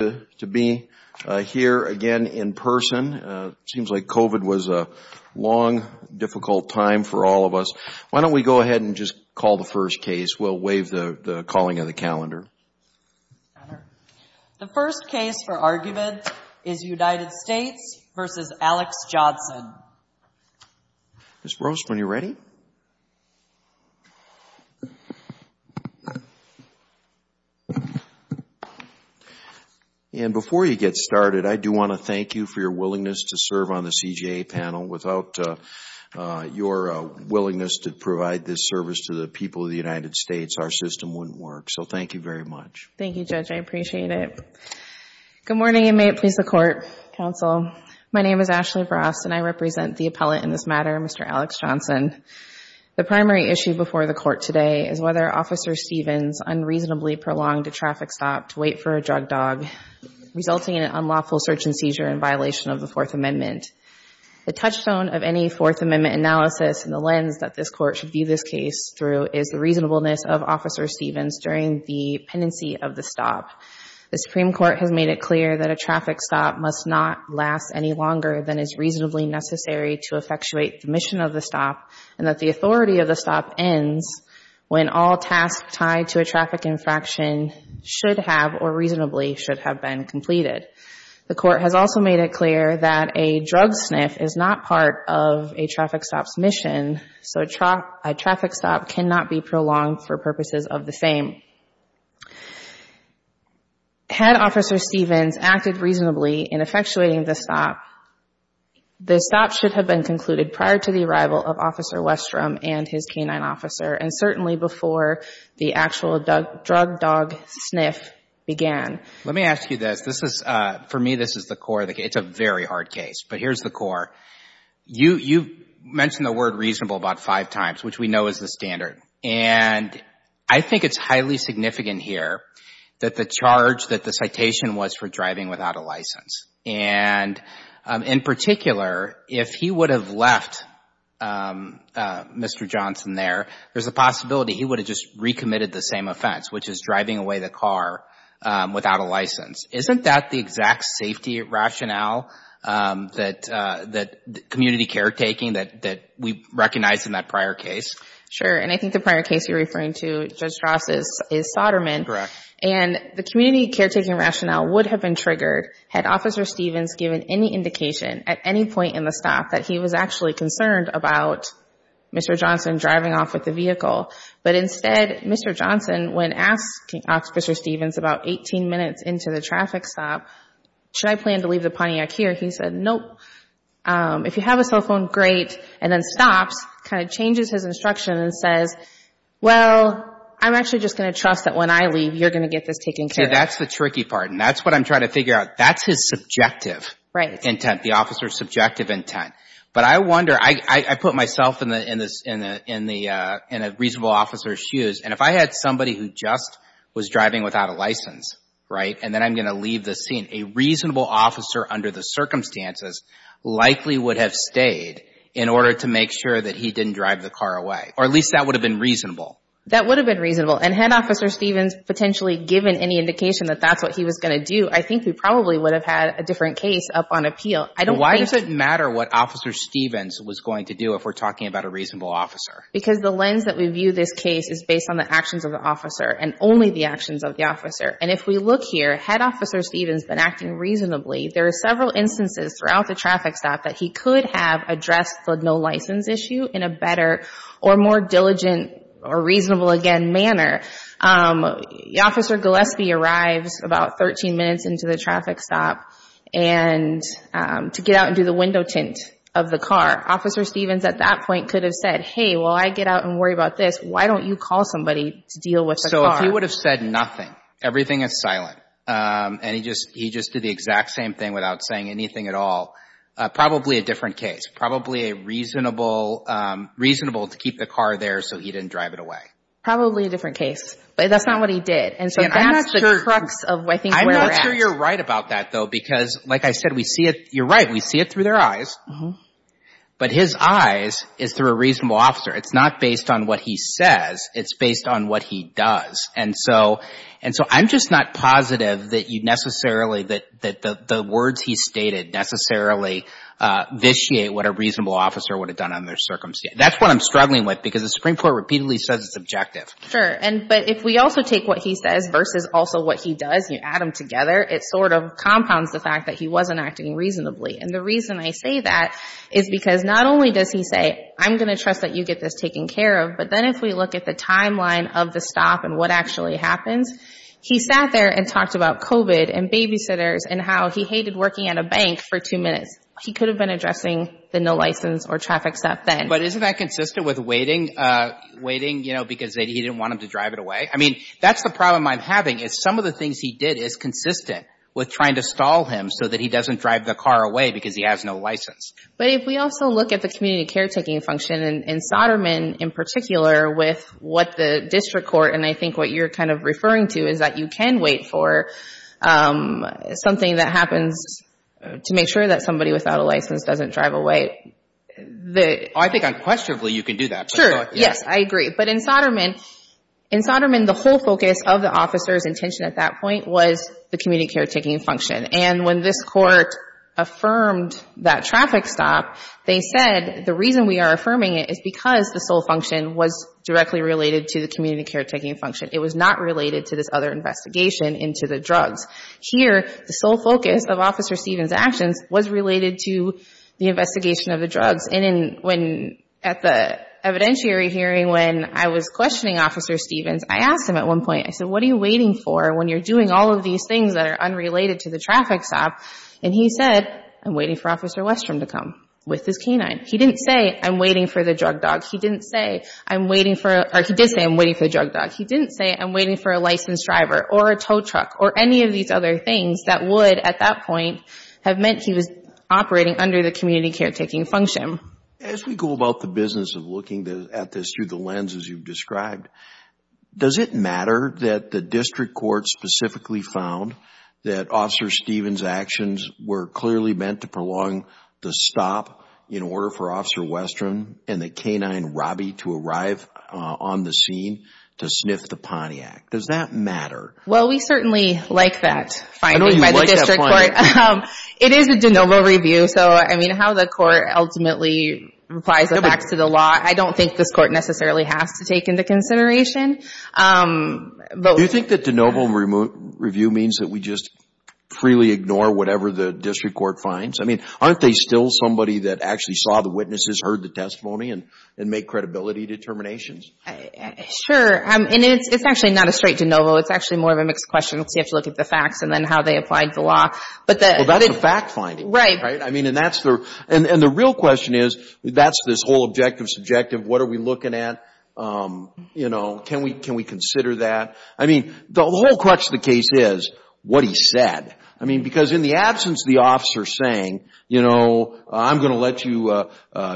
here again in person. It seems like COVID was a long, difficult time for all of us. Why don't we go ahead and just call the first case. We'll waive the calling of the calendar. The first case for argument is United States v. Alex Johnson. Ms. Roast, when you're ready. And before you get started, I do want to thank you for your willingness to serve on the CJA panel. Without your willingness to provide this service to the people of the United States, our system wouldn't work. So thank you very much. Thank you, Judge. I appreciate it. Good morning and may it please the Court, Counsel. My name is Ashley Roast and I represent the appellate in this matter, Mr. Alex Johnson. The primary issue before the Court today is whether Officer Stevens unreasonably prolonged a traffic stop to wait for a drug dog, resulting in an unlawful search and seizure in violation of the Fourth Amendment. The touchstone of any Fourth Amendment analysis in the lens that this Court should view this case through is the reasonableness of Officer Stevens during the pendency of the stop. The Supreme Court has made it clear that a traffic stop must not last any longer than is reasonably necessary to effectuate the mission of the stop and that the authority of the stop ends when all tasks tied to a traffic infraction should have or reasonably should have been completed. The Court has also made it clear that a drug sniff is not part of a traffic stop's mission, so a traffic stop cannot be prolonged for purposes of the same. Had Officer Stevens acted reasonably in effectuating the stop, the stop should have been concluded prior to the arrival of Officer Westrom and his canine officer and certainly before the actual drug dog sniff began. Let me ask you this. For me, this is the core of the case. It's a very hard case, but here's the core. You mentioned the word reasonable about five times, which we know is the standard, and I think it's highly significant here that the charge, that the citation was for driving without a license, and in particular, if he would have left Mr. Johnson there, there's a possibility he would have just recommitted the same offense, which is driving away the car without a license. Isn't that the exact safety rationale that community caretaking, that we recognize in that prior case? Sure, and I think the prior case you're referring to, Judge Strauss, is Soderman. Correct. And the community caretaking rationale would have been triggered had Officer Stevens given any indication at any point in the stop that he was actually concerned about Mr. Johnson driving off with the vehicle. But instead, Mr. Johnson, when asking Officer Stevens about 18 minutes into the traffic stop, should I plan to leave the Pontiac here, he said, nope. If you have a cell phone, great, and then stops, kind of changes his instruction and says, well, I'm actually just going to trust that when I leave, you're going to get this taken care of. Okay, that's the tricky part, and that's what I'm trying to figure out. That's his subjective intent, the officer's subjective intent. But I wonder, I put myself in a reasonable officer's shoes, and if I had somebody who just was driving without a license, right, and then I'm going to leave the scene, a reasonable officer under the circumstances likely would have stayed in order to make sure that he didn't drive the car away. Or at least that would have been reasonable. That would have been reasonable, and had Officer Stevens potentially given any indication that that's what he was going to do, I think we probably would have had a different case up on appeal. Why does it matter what Officer Stevens was going to do if we're talking about a reasonable officer? Because the lens that we view this case is based on the actions of the officer and only the actions of the officer. And if we look here, had Officer Stevens been acting reasonably, there are several instances throughout the traffic stop that he could have addressed the no license issue in a better or more diligent or reasonable, again, manner. Officer Gillespie arrives about 13 minutes into the traffic stop to get out and do the window tint of the car. Officer Stevens at that point could have said, hey, while I get out and worry about this, why don't you call somebody to deal with the car? So if he would have said nothing, everything is silent, and he just did the exact same thing without saying anything at all, probably a different case. Probably a reasonable to keep the car there so he didn't drive it away. Probably a different case. But that's not what he did. And so that's the crux of I think where we're at. I'm not sure you're right about that, though, because like I said, we see it. You're right. We see it through their eyes. But his eyes is through a reasonable officer. It's not based on what he says. It's based on what he does. And so I'm just not positive that you necessarily, that the words he stated necessarily vitiate what a reasonable officer would have done under their circumstance. That's what I'm struggling with because the Supreme Court repeatedly says it's objective. Sure. But if we also take what he says versus also what he does and you add them together, it sort of compounds the fact that he wasn't acting reasonably. And the reason I say that is because not only does he say I'm going to trust that you get this taken care of, but then if we look at the timeline of the stop and what actually happens, he sat there and talked about COVID and babysitters and how he hated working at a bank for two minutes. He could have been addressing the no license or traffic stop then. But isn't that consistent with waiting, you know, because he didn't want him to drive it away? I mean, that's the problem I'm having is some of the things he did is consistent with trying to stall him so that he doesn't drive the car away because he has no license. But if we also look at the community caretaking function in Soderman in particular with what the district court, and I think what you're kind of referring to is that you can wait for something that happens to make sure that somebody without a license doesn't drive away. I think unquestionably you can do that. Sure. Yes, I agree. But in Soderman, in Soderman the whole focus of the officer's intention at that point was the community caretaking function. And when this court affirmed that traffic stop, they said, the reason we are affirming it is because the sole function was directly related to the community caretaking function. It was not related to this other investigation into the drugs. Here, the sole focus of Officer Stevens' actions was related to the investigation of the drugs. And at the evidentiary hearing when I was questioning Officer Stevens, I asked him at one point, I said, what are you waiting for when you're doing all of these things that are unrelated to the traffic stop? And he said, I'm waiting for Officer Westrom to come with his canine. He didn't say, I'm waiting for the drug dog. He didn't say, I'm waiting for, or he did say, I'm waiting for the drug dog. He didn't say, I'm waiting for a licensed driver or a tow truck or any of these other things that would at that point have meant he was operating under the community caretaking function. As we go about the business of looking at this through the lens as you've described, does it matter that the district court specifically found that Officer Stevens' actions were clearly meant to prolong the stop in order for Officer Westrom and the canine, Robbie, to arrive on the scene to sniff the Pontiac? Does that matter? Well, we certainly like that finding by the district court. It is a de novo review. So, I mean, how the court ultimately replies the facts to the law, I don't think this court necessarily has to take into consideration. Do you think that de novo review means that we just freely ignore whatever the district court finds? I mean, aren't they still somebody that actually saw the witnesses, heard the testimony, and make credibility determinations? And it's actually not a straight de novo. It's actually more of a mixed question because you have to look at the facts and then how they applied the law. Well, that's a fact finding. Right. I mean, and the real question is that's this whole objective subjective. What are we looking at? You know, can we consider that? I mean, the whole crutch of the case is what he said. I mean, because in the absence of the officer saying, you know, I'm going to let you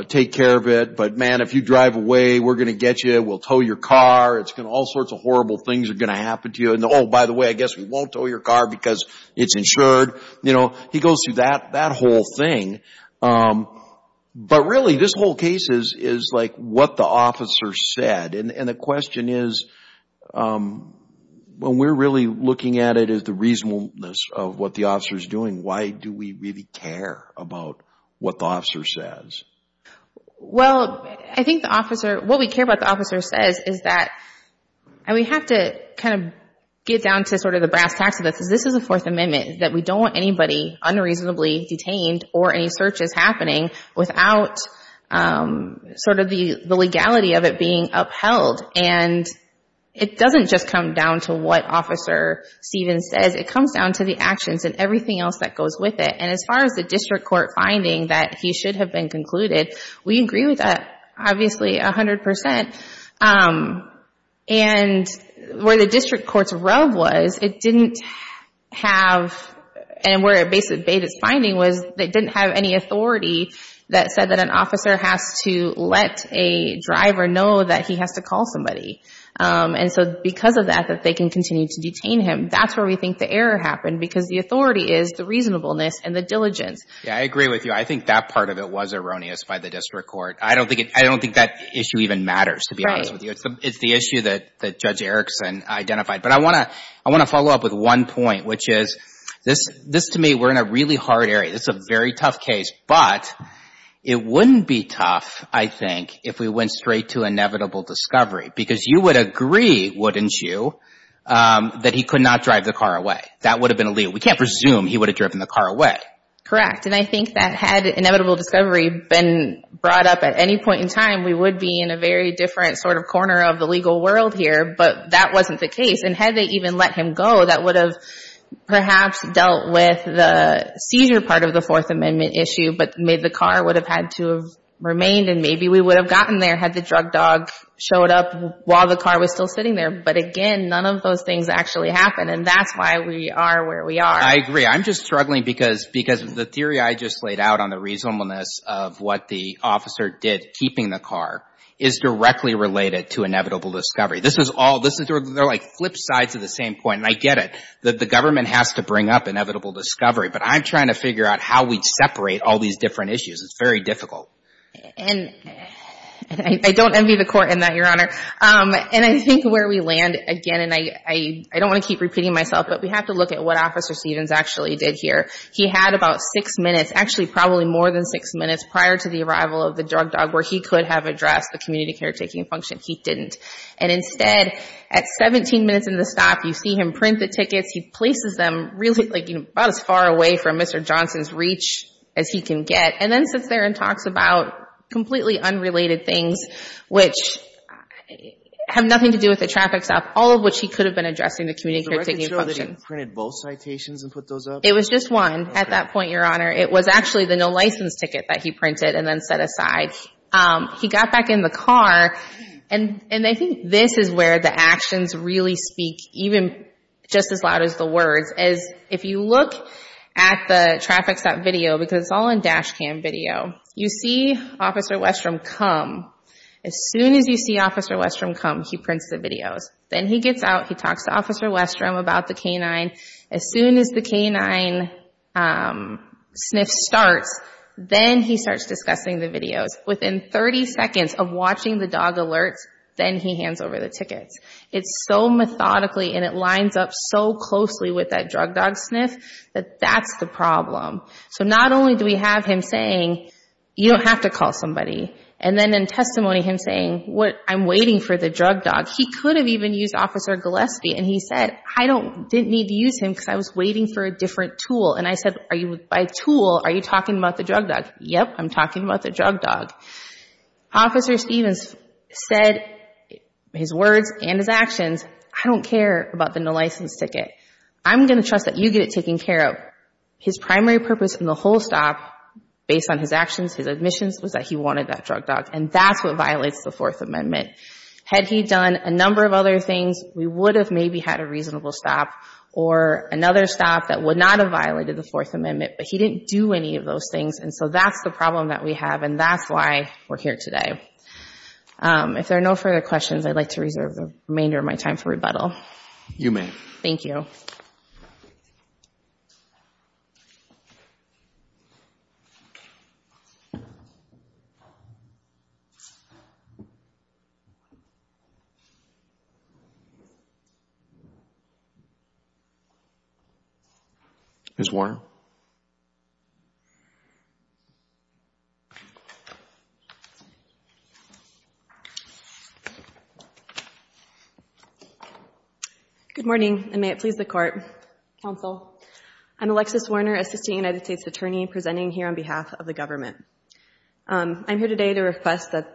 take care of it, but, man, if you drive away, we're going to get you. We'll tow your car. All sorts of horrible things are going to happen to you. And, oh, by the way, I guess we won't tow your car because it's insured. You know, he goes through that whole thing. But, really, this whole case is like what the officer said. And the question is when we're really looking at it as the reasonableness of what the officer is doing, why do we really care about what the officer says? Well, I think the officer, what we care about the officer says is that, and we have to kind of get down to sort of the brass tacks of it, because this is a Fourth Amendment, that we don't want anybody unreasonably detained or any searches happening without sort of the legality of it being upheld. And it doesn't just come down to what Officer Stevens says. It comes down to the actions and everything else that goes with it. And as far as the district court finding that he should have been concluded, we agree with that, obviously, 100%. And where the district court's rub was, it didn't have, and where it basically debated its finding was it didn't have any authority that said that an officer has to let a driver know that he has to call somebody. And so because of that, that they can continue to detain him, that's where we think the error happened, because the authority is the reasonableness and the diligence. Yeah, I agree with you. I think that part of it was erroneous by the district court. I don't think that issue even matters, to be honest with you. It's the issue that Judge Erickson identified. But I want to follow up with one point, which is this, to me, we're in a really hard area. This is a very tough case. But it wouldn't be tough, I think, if we went straight to inevitable discovery, because you would agree, wouldn't you, that he could not drive the car away. That would have been illegal. We can't presume he would have driven the car away. Correct. And I think that had inevitable discovery been brought up at any point in time, we would be in a very different sort of corner of the legal world here, but that wasn't the case. And had they even let him go, that would have perhaps dealt with the seizure part of the Fourth Amendment issue, but the car would have had to have remained and maybe we would have gotten there had the drug dog showed up while the car was still sitting there. But, again, none of those things actually happened, and that's why we are where we are. I agree. I'm just struggling because the theory I just laid out on the reasonableness of what the officer did, keeping the car, is directly related to inevitable discovery. They're like flip sides of the same coin, and I get it. The government has to bring up inevitable discovery, but I'm trying to figure out how we'd separate all these different issues. It's very difficult. And I don't envy the court in that, Your Honor. And I think where we land, again, and I don't want to keep repeating myself, but we have to look at what Officer Stevens actually did here. He had about six minutes, actually probably more than six minutes prior to the arrival of the drug dog where he could have addressed the community care taking function. He didn't. And instead, at 17 minutes into the stop, you see him print the tickets. He places them really about as far away from Mr. Johnson's reach as he can get, and then sits there and talks about completely unrelated things, which have nothing to do with the traffic stop, all of which he could have been addressing the community care taking function. Was the record show that he printed both citations and put those up? It was just one at that point, Your Honor. It was actually the no license ticket that he printed and then set aside. He got back in the car, and I think this is where the actions really speak, even just as loud as the words. If you look at the traffic stop video, because it's all in dash cam video, you see Officer Westrom come. As soon as you see Officer Westrom come, he prints the videos. Then he gets out. He talks to Officer Westrom about the K-9. As soon as the K-9 sniff starts, then he starts discussing the videos. Within 30 seconds of watching the dog alerts, then he hands over the tickets. It's so methodically and it lines up so closely with that drug dog sniff that that's the problem. Not only do we have him saying, you don't have to call somebody, and then in testimony him saying, I'm waiting for the drug dog. He could have even used Officer Gillespie, and he said, I didn't need to use him because I was waiting for a different tool. I said, by tool, are you talking about the drug dog? Yep, I'm talking about the drug dog. Officer Stevens said his words and his actions, I don't care about the no license ticket. I'm going to trust that you get it taken care of. His primary purpose in the whole stop, based on his actions, his admissions, was that he wanted that drug dog, and that's what violates the Fourth Amendment. Had he done a number of other things, we would have maybe had a reasonable stop or another stop that would not have violated the Fourth Amendment, but he didn't do any of those things, and so that's the problem that we have, and that's why we're here today. If there are no further questions, I'd like to reserve the remainder of my time for rebuttal. You may. Thank you. Ms. Warner? Good morning, and may it please the court, counsel. I'm Alexis Warner, assistant United States attorney, presenting here on behalf of the government. I'm here today to request that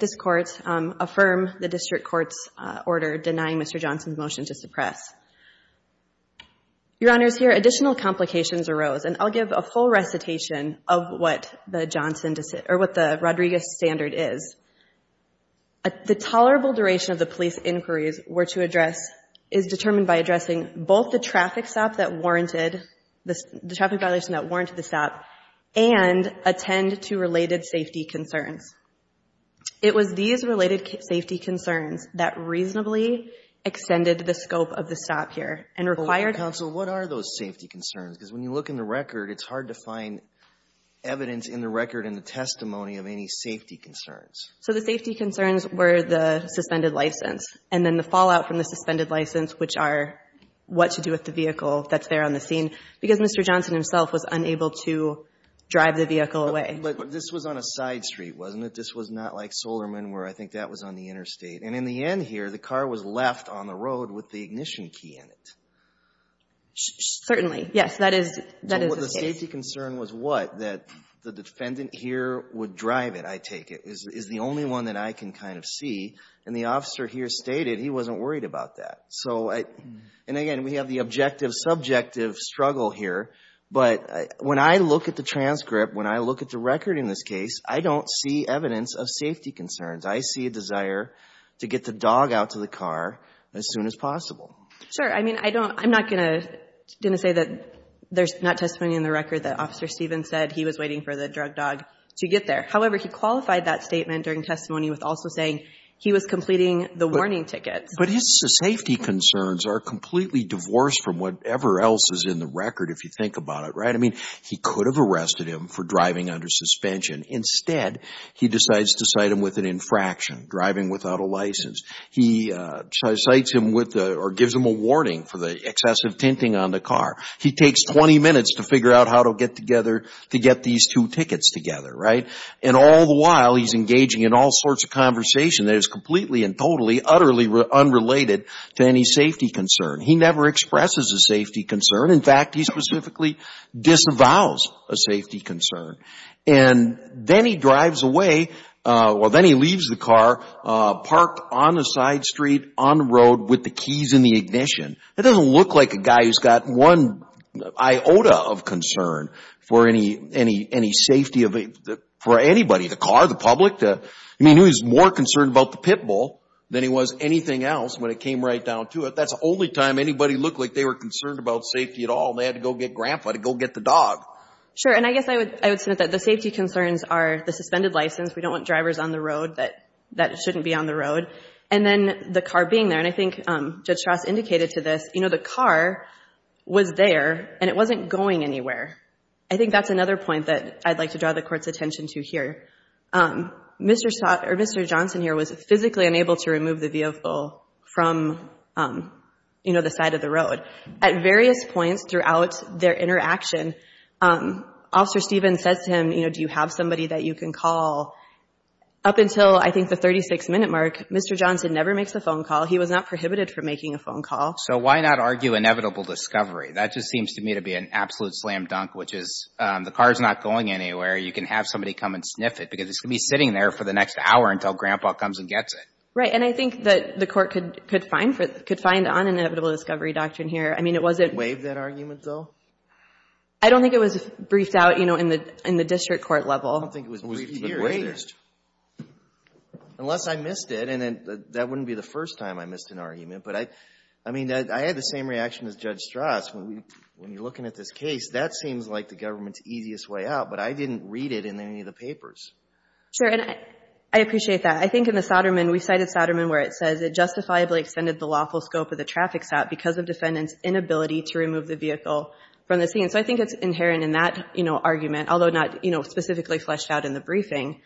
this court affirm the district court's order denying Mr. Johnson's motion to suppress. Your Honors, here additional complications arose, and I'll give a full recitation of what the Johnson, or what the Rodriguez standard is. The tolerable duration of the police inquiries were to address is determined by addressing both the traffic stop that warranted, the traffic violation that warranted the stop, and attend to related safety concerns. It was these related safety concerns that reasonably extended the scope of the stop here and required. Counsel, what are those safety concerns? Because when you look in the record, it's hard to find evidence in the record and the testimony of any safety concerns. So the safety concerns were the suspended license, and then the fallout from the suspended license, which are what to do with the vehicle that's there on the scene, because Mr. Johnson himself was unable to drive the vehicle away. But this was on a side street, wasn't it? This was not like Solerman, where I think that was on the interstate. And in the end here, the car was left on the road with the ignition key in it. Certainly, yes. That is the case. The safety concern was what? That the defendant here would drive it, I take it, is the only one that I can kind of see. And the officer here stated he wasn't worried about that. So, and again, we have the objective, subjective struggle here. But when I look at the transcript, when I look at the record in this case, I don't see evidence of safety concerns. I see a desire to get the dog out to the car as soon as possible. Sure. I mean, I'm not going to say that there's not testimony in the record that Officer Stevens said he was waiting for the drug dog to get there. However, he qualified that statement during testimony with also saying he was completing the warning tickets. But his safety concerns are completely divorced from whatever else is in the record, if you think about it, right? I mean, he could have arrested him for driving under suspension. Instead, he decides to cite him with an infraction, driving without a license. He cites him with or gives him a warning for the excessive tinting on the car. He takes 20 minutes to figure out how to get together to get these two tickets together, right? And all the while, he's engaging in all sorts of conversation that is completely and totally, utterly unrelated to any safety concern. He never expresses a safety concern. In fact, he specifically disavows a safety concern. And then he drives away, or then he leaves the car, parked on the side street, on the road with the keys in the ignition. That doesn't look like a guy who's got one iota of concern for any safety of anybody, the car, the public. I mean, he was more concerned about the pit bull than he was anything else when it came right down to it. That's the only time anybody looked like they were concerned about safety at all, and they had to go get Grandpa to go get the dog. Sure, and I guess I would submit that the safety concerns are the suspended license, we don't want drivers on the road that shouldn't be on the road, and then the car being there. And I think Judge Strauss indicated to this, you know, the car was there, and it wasn't going anywhere. I think that's another point that I'd like to draw the Court's attention to here. Mr. Johnson here was physically unable to remove the vehicle from, you know, the side of the road. At various points throughout their interaction, Officer Stevens says to him, you know, do you have somebody that you can call? Up until, I think, the 36-minute mark, Mr. Johnson never makes a phone call. He was not prohibited from making a phone call. So why not argue inevitable discovery? That just seems to me to be an absolute slam dunk, which is the car's not going anywhere, you can have somebody come and sniff it, because it's going to be sitting there for the next hour until Grandpa comes and gets it. Right. And I think that the Court could find on inevitable discovery doctrine here. I mean, it wasn't... Waived that argument, though? I don't think it was briefed out, you know, in the district court level. I don't think it was briefed but waived. Unless I missed it, and that wouldn't be the first time I missed an argument. But I mean, I had the same reaction as Judge Strauss. When you're looking at this case, that seems like the government's easiest way out, but I didn't read it in any of the papers. Sure. And I appreciate that. I think in the Soderman, we cited Soderman where it says, it justifiably extended the lawful scope of the traffic stop because of defendant's inability to remove the vehicle from the scene. So I think it's inherent in that argument, although not specifically fleshed out in the briefing.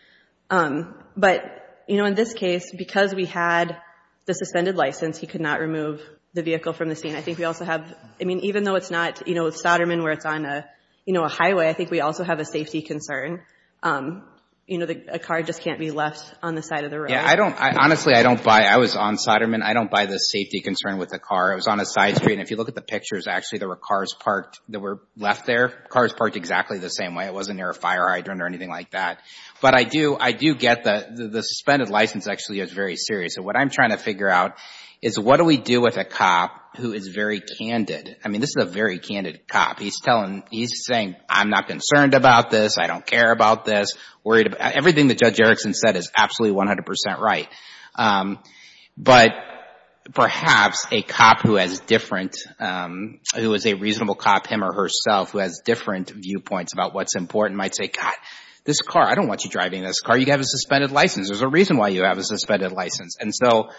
But in this case, because we had the suspended license, he could not remove the vehicle from the scene. I think we also have... I mean, even though it's not Soderman where it's on a highway, I think we also have a safety concern. You know, a car just can't be left on the side of the road. Honestly, I don't buy it. I was on Soderman. I don't buy the safety concern with the car. It was on a side street, and if you look at the pictures, actually there were cars parked that were left there. Cars parked exactly the same way. It wasn't near a fire hydrant or anything like that. But I do get the suspended license actually is very serious. So what I'm trying to figure out is what do we do with a cop who is very candid? I mean, this is a very candid cop. He's saying, I'm not concerned about this. I don't care about this. Everything that Judge Erickson said is absolutely 100 percent right. But perhaps a cop who has different... who is a reasonable cop, him or herself, who has different viewpoints about what's important might say, God, this car, I don't want you driving this car. You have a suspended license. There's a reason why you have a suspended license. And so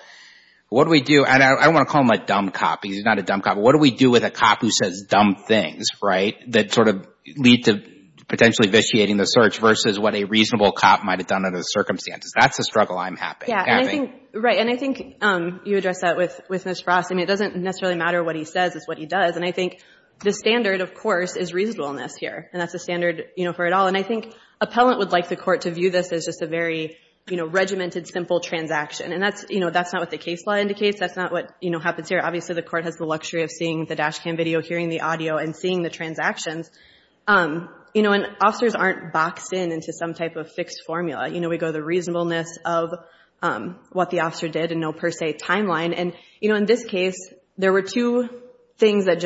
what do we do? And I don't want to call him a dumb cop because he's not a dumb cop. But what do we do with a cop who says dumb things, right, that sort of lead to potentially vitiating the search versus what a reasonable cop might have done under the circumstances? That's the struggle I'm having. Yeah, and I think you addressed that with Ms. Frost. I mean, it doesn't necessarily matter what he says. It's what he does. And I think the standard, of course, is reasonableness here. And that's the standard for it all. And I think appellant would like the court to view this as just a very regimented, simple transaction. And that's not what the case law indicates. That's not what happens here. Obviously, the court has the luxury of seeing the dash cam video, hearing the audio, and seeing the transactions. And officers aren't boxed in into some type of fixed formula. We go the reasonableness of what the officer did and no per se timeline. And in this case, there were two things that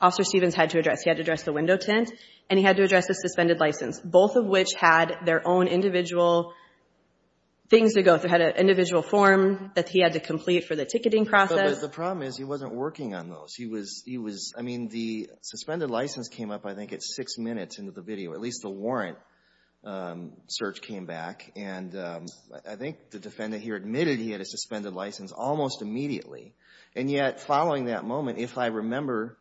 Officer Stevens had to address. He had to address the window tint and he had to address the suspended license, both of which had their own individual things to go through, had an individual form that he had to complete for the ticketing process. But the problem is he wasn't working on those. He was, I mean, the suspended license came up, I think, at six minutes into the video. At least the warrant search came back. And I think the defendant here admitted he had a suspended license almost immediately. And yet, following that moment, if I remember,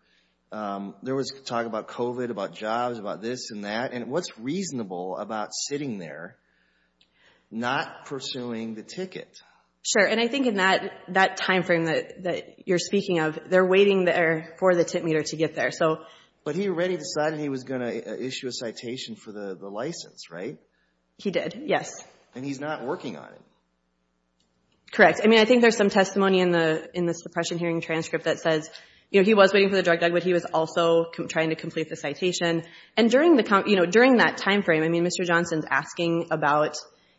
there was talk about COVID, about jobs, about this and that. And what's reasonable about sitting there not pursuing the ticket? Sure. And I think in that timeframe that you're speaking of, they're waiting there for the tint meter to get there. But he already decided he was going to issue a citation for the license, right? He did, yes. And he's not working on it. Correct. I mean, I think there's some testimony in the suppression hearing transcript but he was also trying to complete the citation. And during that timeframe, I mean, Mr. Johnson's asking about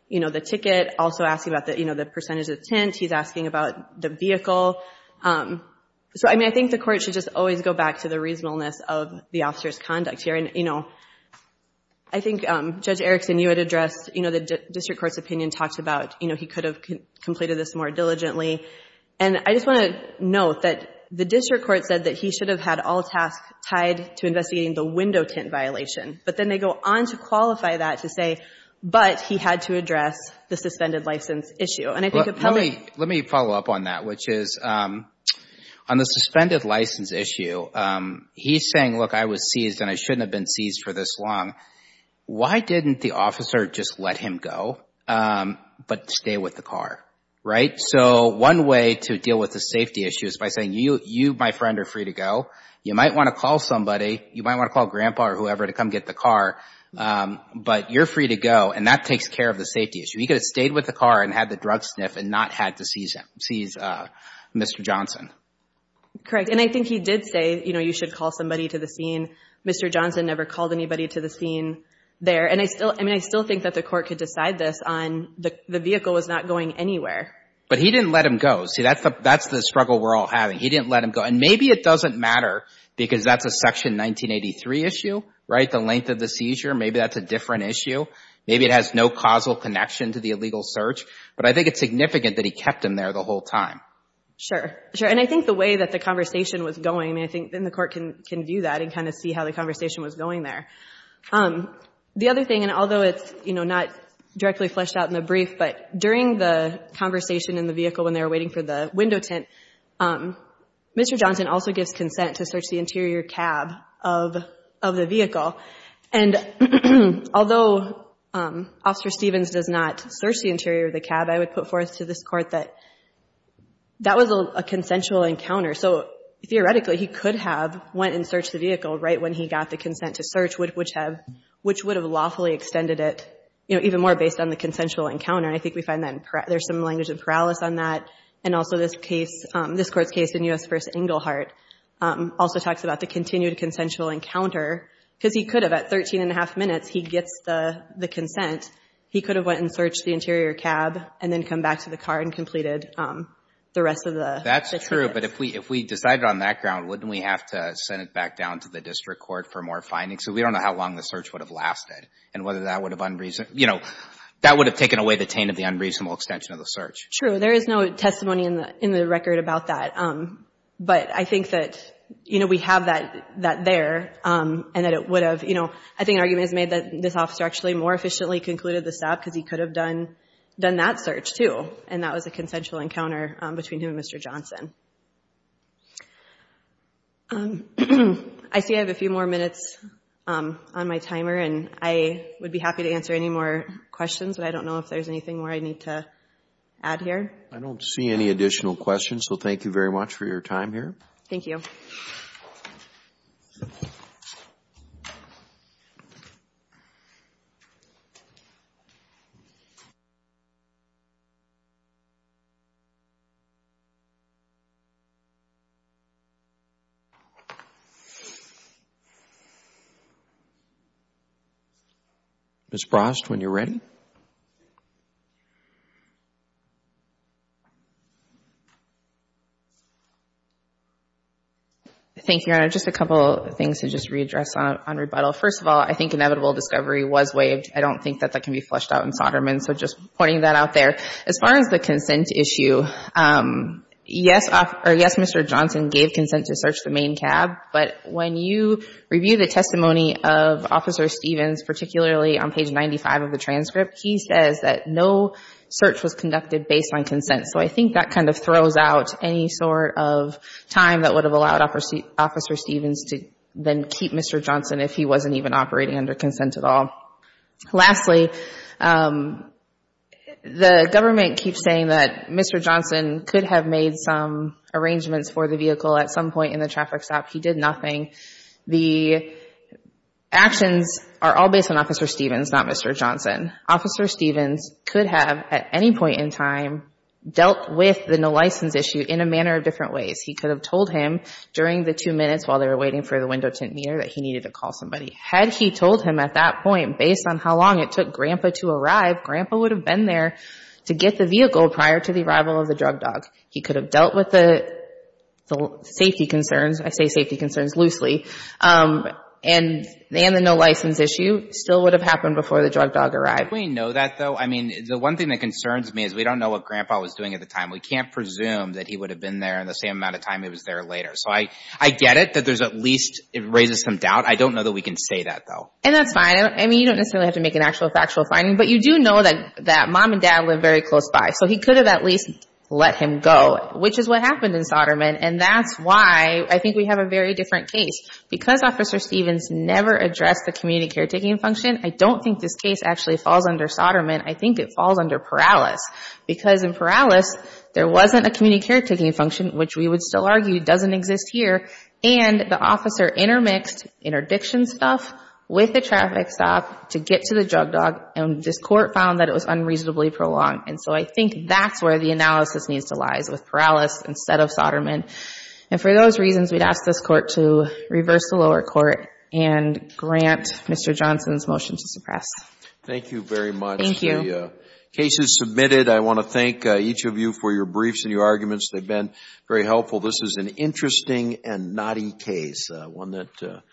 the ticket, also asking about the percentage of tint. He's asking about the vehicle. So I mean, I think the court should just always go back to the reasonableness of the officer's conduct here. And I think, Judge Erickson, you had addressed the district court's opinion, talked about he could have completed this more diligently. And I just want to note that the district court said that he should have had all tasks tied to investigating the window tint violation. But then they go on to qualify that to say, but he had to address the suspended license issue. Let me follow up on that, which is on the suspended license issue, he's saying, look, I was seized and I shouldn't have been seized for this long. Why didn't the officer just let him go but stay with the car, right? So one way to deal with the safety issue is by saying, you, my friend, are free to go. You might want to call somebody. You might want to call Grandpa or whoever to come get the car. But you're free to go, and that takes care of the safety issue. He could have stayed with the car and had the drug sniff and not had to seize Mr. Johnson. Correct. And I think he did say, you know, you should call somebody to the scene. Mr. Johnson never called anybody to the scene there. And I mean, I still think that the court could decide this on the vehicle was not going anywhere. But he didn't let him go. See, that's the struggle we're all having. He didn't let him go. And maybe it doesn't matter because that's a Section 1983 issue, right, the length of the seizure. Maybe that's a different issue. Maybe it has no causal connection to the illegal search. But I think it's significant that he kept him there the whole time. Sure, sure. And I think the way that the conversation was going, I mean, I think then the court can view that and kind of see how the conversation was going there. The other thing, and although it's, you know, not directly fleshed out in the brief, but during the conversation in the vehicle when they were waiting for the window tint, Mr. Johnson also gives consent to search the interior cab of the vehicle. And although Officer Stevens does not search the interior of the cab, I would put forth to this Court that that was a consensual encounter. So theoretically he could have went and searched the vehicle right when he got the consent to search, which would have lawfully extended it, you know, even more based on the consensual encounter. And I think we find that there's some language of paralysis on that. And also this case, this Court's case in U.S. v. Engelhardt also talks about the continued consensual encounter because he could have at 13 and a half minutes, he gets the consent. He could have went and searched the interior cab and then come back to the car and completed the rest of the six minutes. That's true. But if we decided on that ground, wouldn't we have to send it back down to the district court for more findings? So we don't know how long the search would have lasted and whether that would have unreasonable, you know, that would have taken away the taint of the unreasonable extension of the search. True. There is no testimony in the record about that. But I think that, you know, we have that there and that it would have, you know, I think an argument is made that this officer actually more efficiently concluded the stop because he could have done that search, too, and that was a consensual encounter between him and Mr. Johnson. I see I have a few more minutes on my timer, and I would be happy to answer any more questions, but I don't know if there's anything more I need to add here. I don't see any additional questions, so thank you very much for your time here. Thank you. Ms. Brost, when you're ready. Thank you, Your Honor. Just a couple of things to just readdress on rebuttal. First of all, I think inevitable discovery was waived. I don't think that that can be fleshed out in Soderman, so just pointing that out there. As far as the consent issue, yes, Mr. Johnson gave consent to search the main cab, but when you review the testimony of Officer Stevens, particularly on page 95 of the transcript, he says that no search was conducted based on consent. So I think that kind of throws out any sort of time that would have allowed Officer Stevens to then keep Mr. Johnson if he wasn't even operating under consent at all. Lastly, the government keeps saying that Mr. Johnson could have made some arrangements for the vehicle at some point in the traffic stop. He did nothing. The actions are all based on Officer Stevens, not Mr. Johnson. Officer Stevens could have at any point in time dealt with the no license issue in a manner of different ways. He could have told him during the two minutes while they were waiting for the window tint meter that he needed to call somebody. Had he told him at that point, based on how long it took Grandpa to arrive, Grandpa would have been there to get the vehicle prior to the arrival of the drug dog. He could have dealt with the safety concerns, I say safety concerns loosely, and the no license issue still would have happened before the drug dog arrived. Do we know that, though? I mean, the one thing that concerns me is we don't know what Grandpa was doing at the time. We can't presume that he would have been there in the same amount of time he was there later. So I get it that there's at least, it raises some doubt. I don't know that we can say that, though. And that's fine. I mean, you don't necessarily have to make an actual factual finding. But you do know that Mom and Dad live very close by. So he could have at least let him go, which is what happened in Soderman. And that's why I think we have a very different case. Because Officer Stevens never addressed the community caretaking function, I don't think this case actually falls under Soderman. I think it falls under Perales. Because in Perales, there wasn't a community caretaking function, which we would still argue doesn't exist here. And the officer intermixed interdiction stuff with the traffic stop to get to the drug dog. And this court found that it was unreasonably prolonged. And so I think that's where the analysis needs to lie, is with Perales instead of Soderman. And for those reasons, we'd ask this court to reverse the lower court and grant Mr. Johnson's motion to suppress. Thank you very much. Thank you. The case is submitted. I want to thank each of you for your briefs and your arguments. They've been very helpful. This is an interesting and knotty case, one that...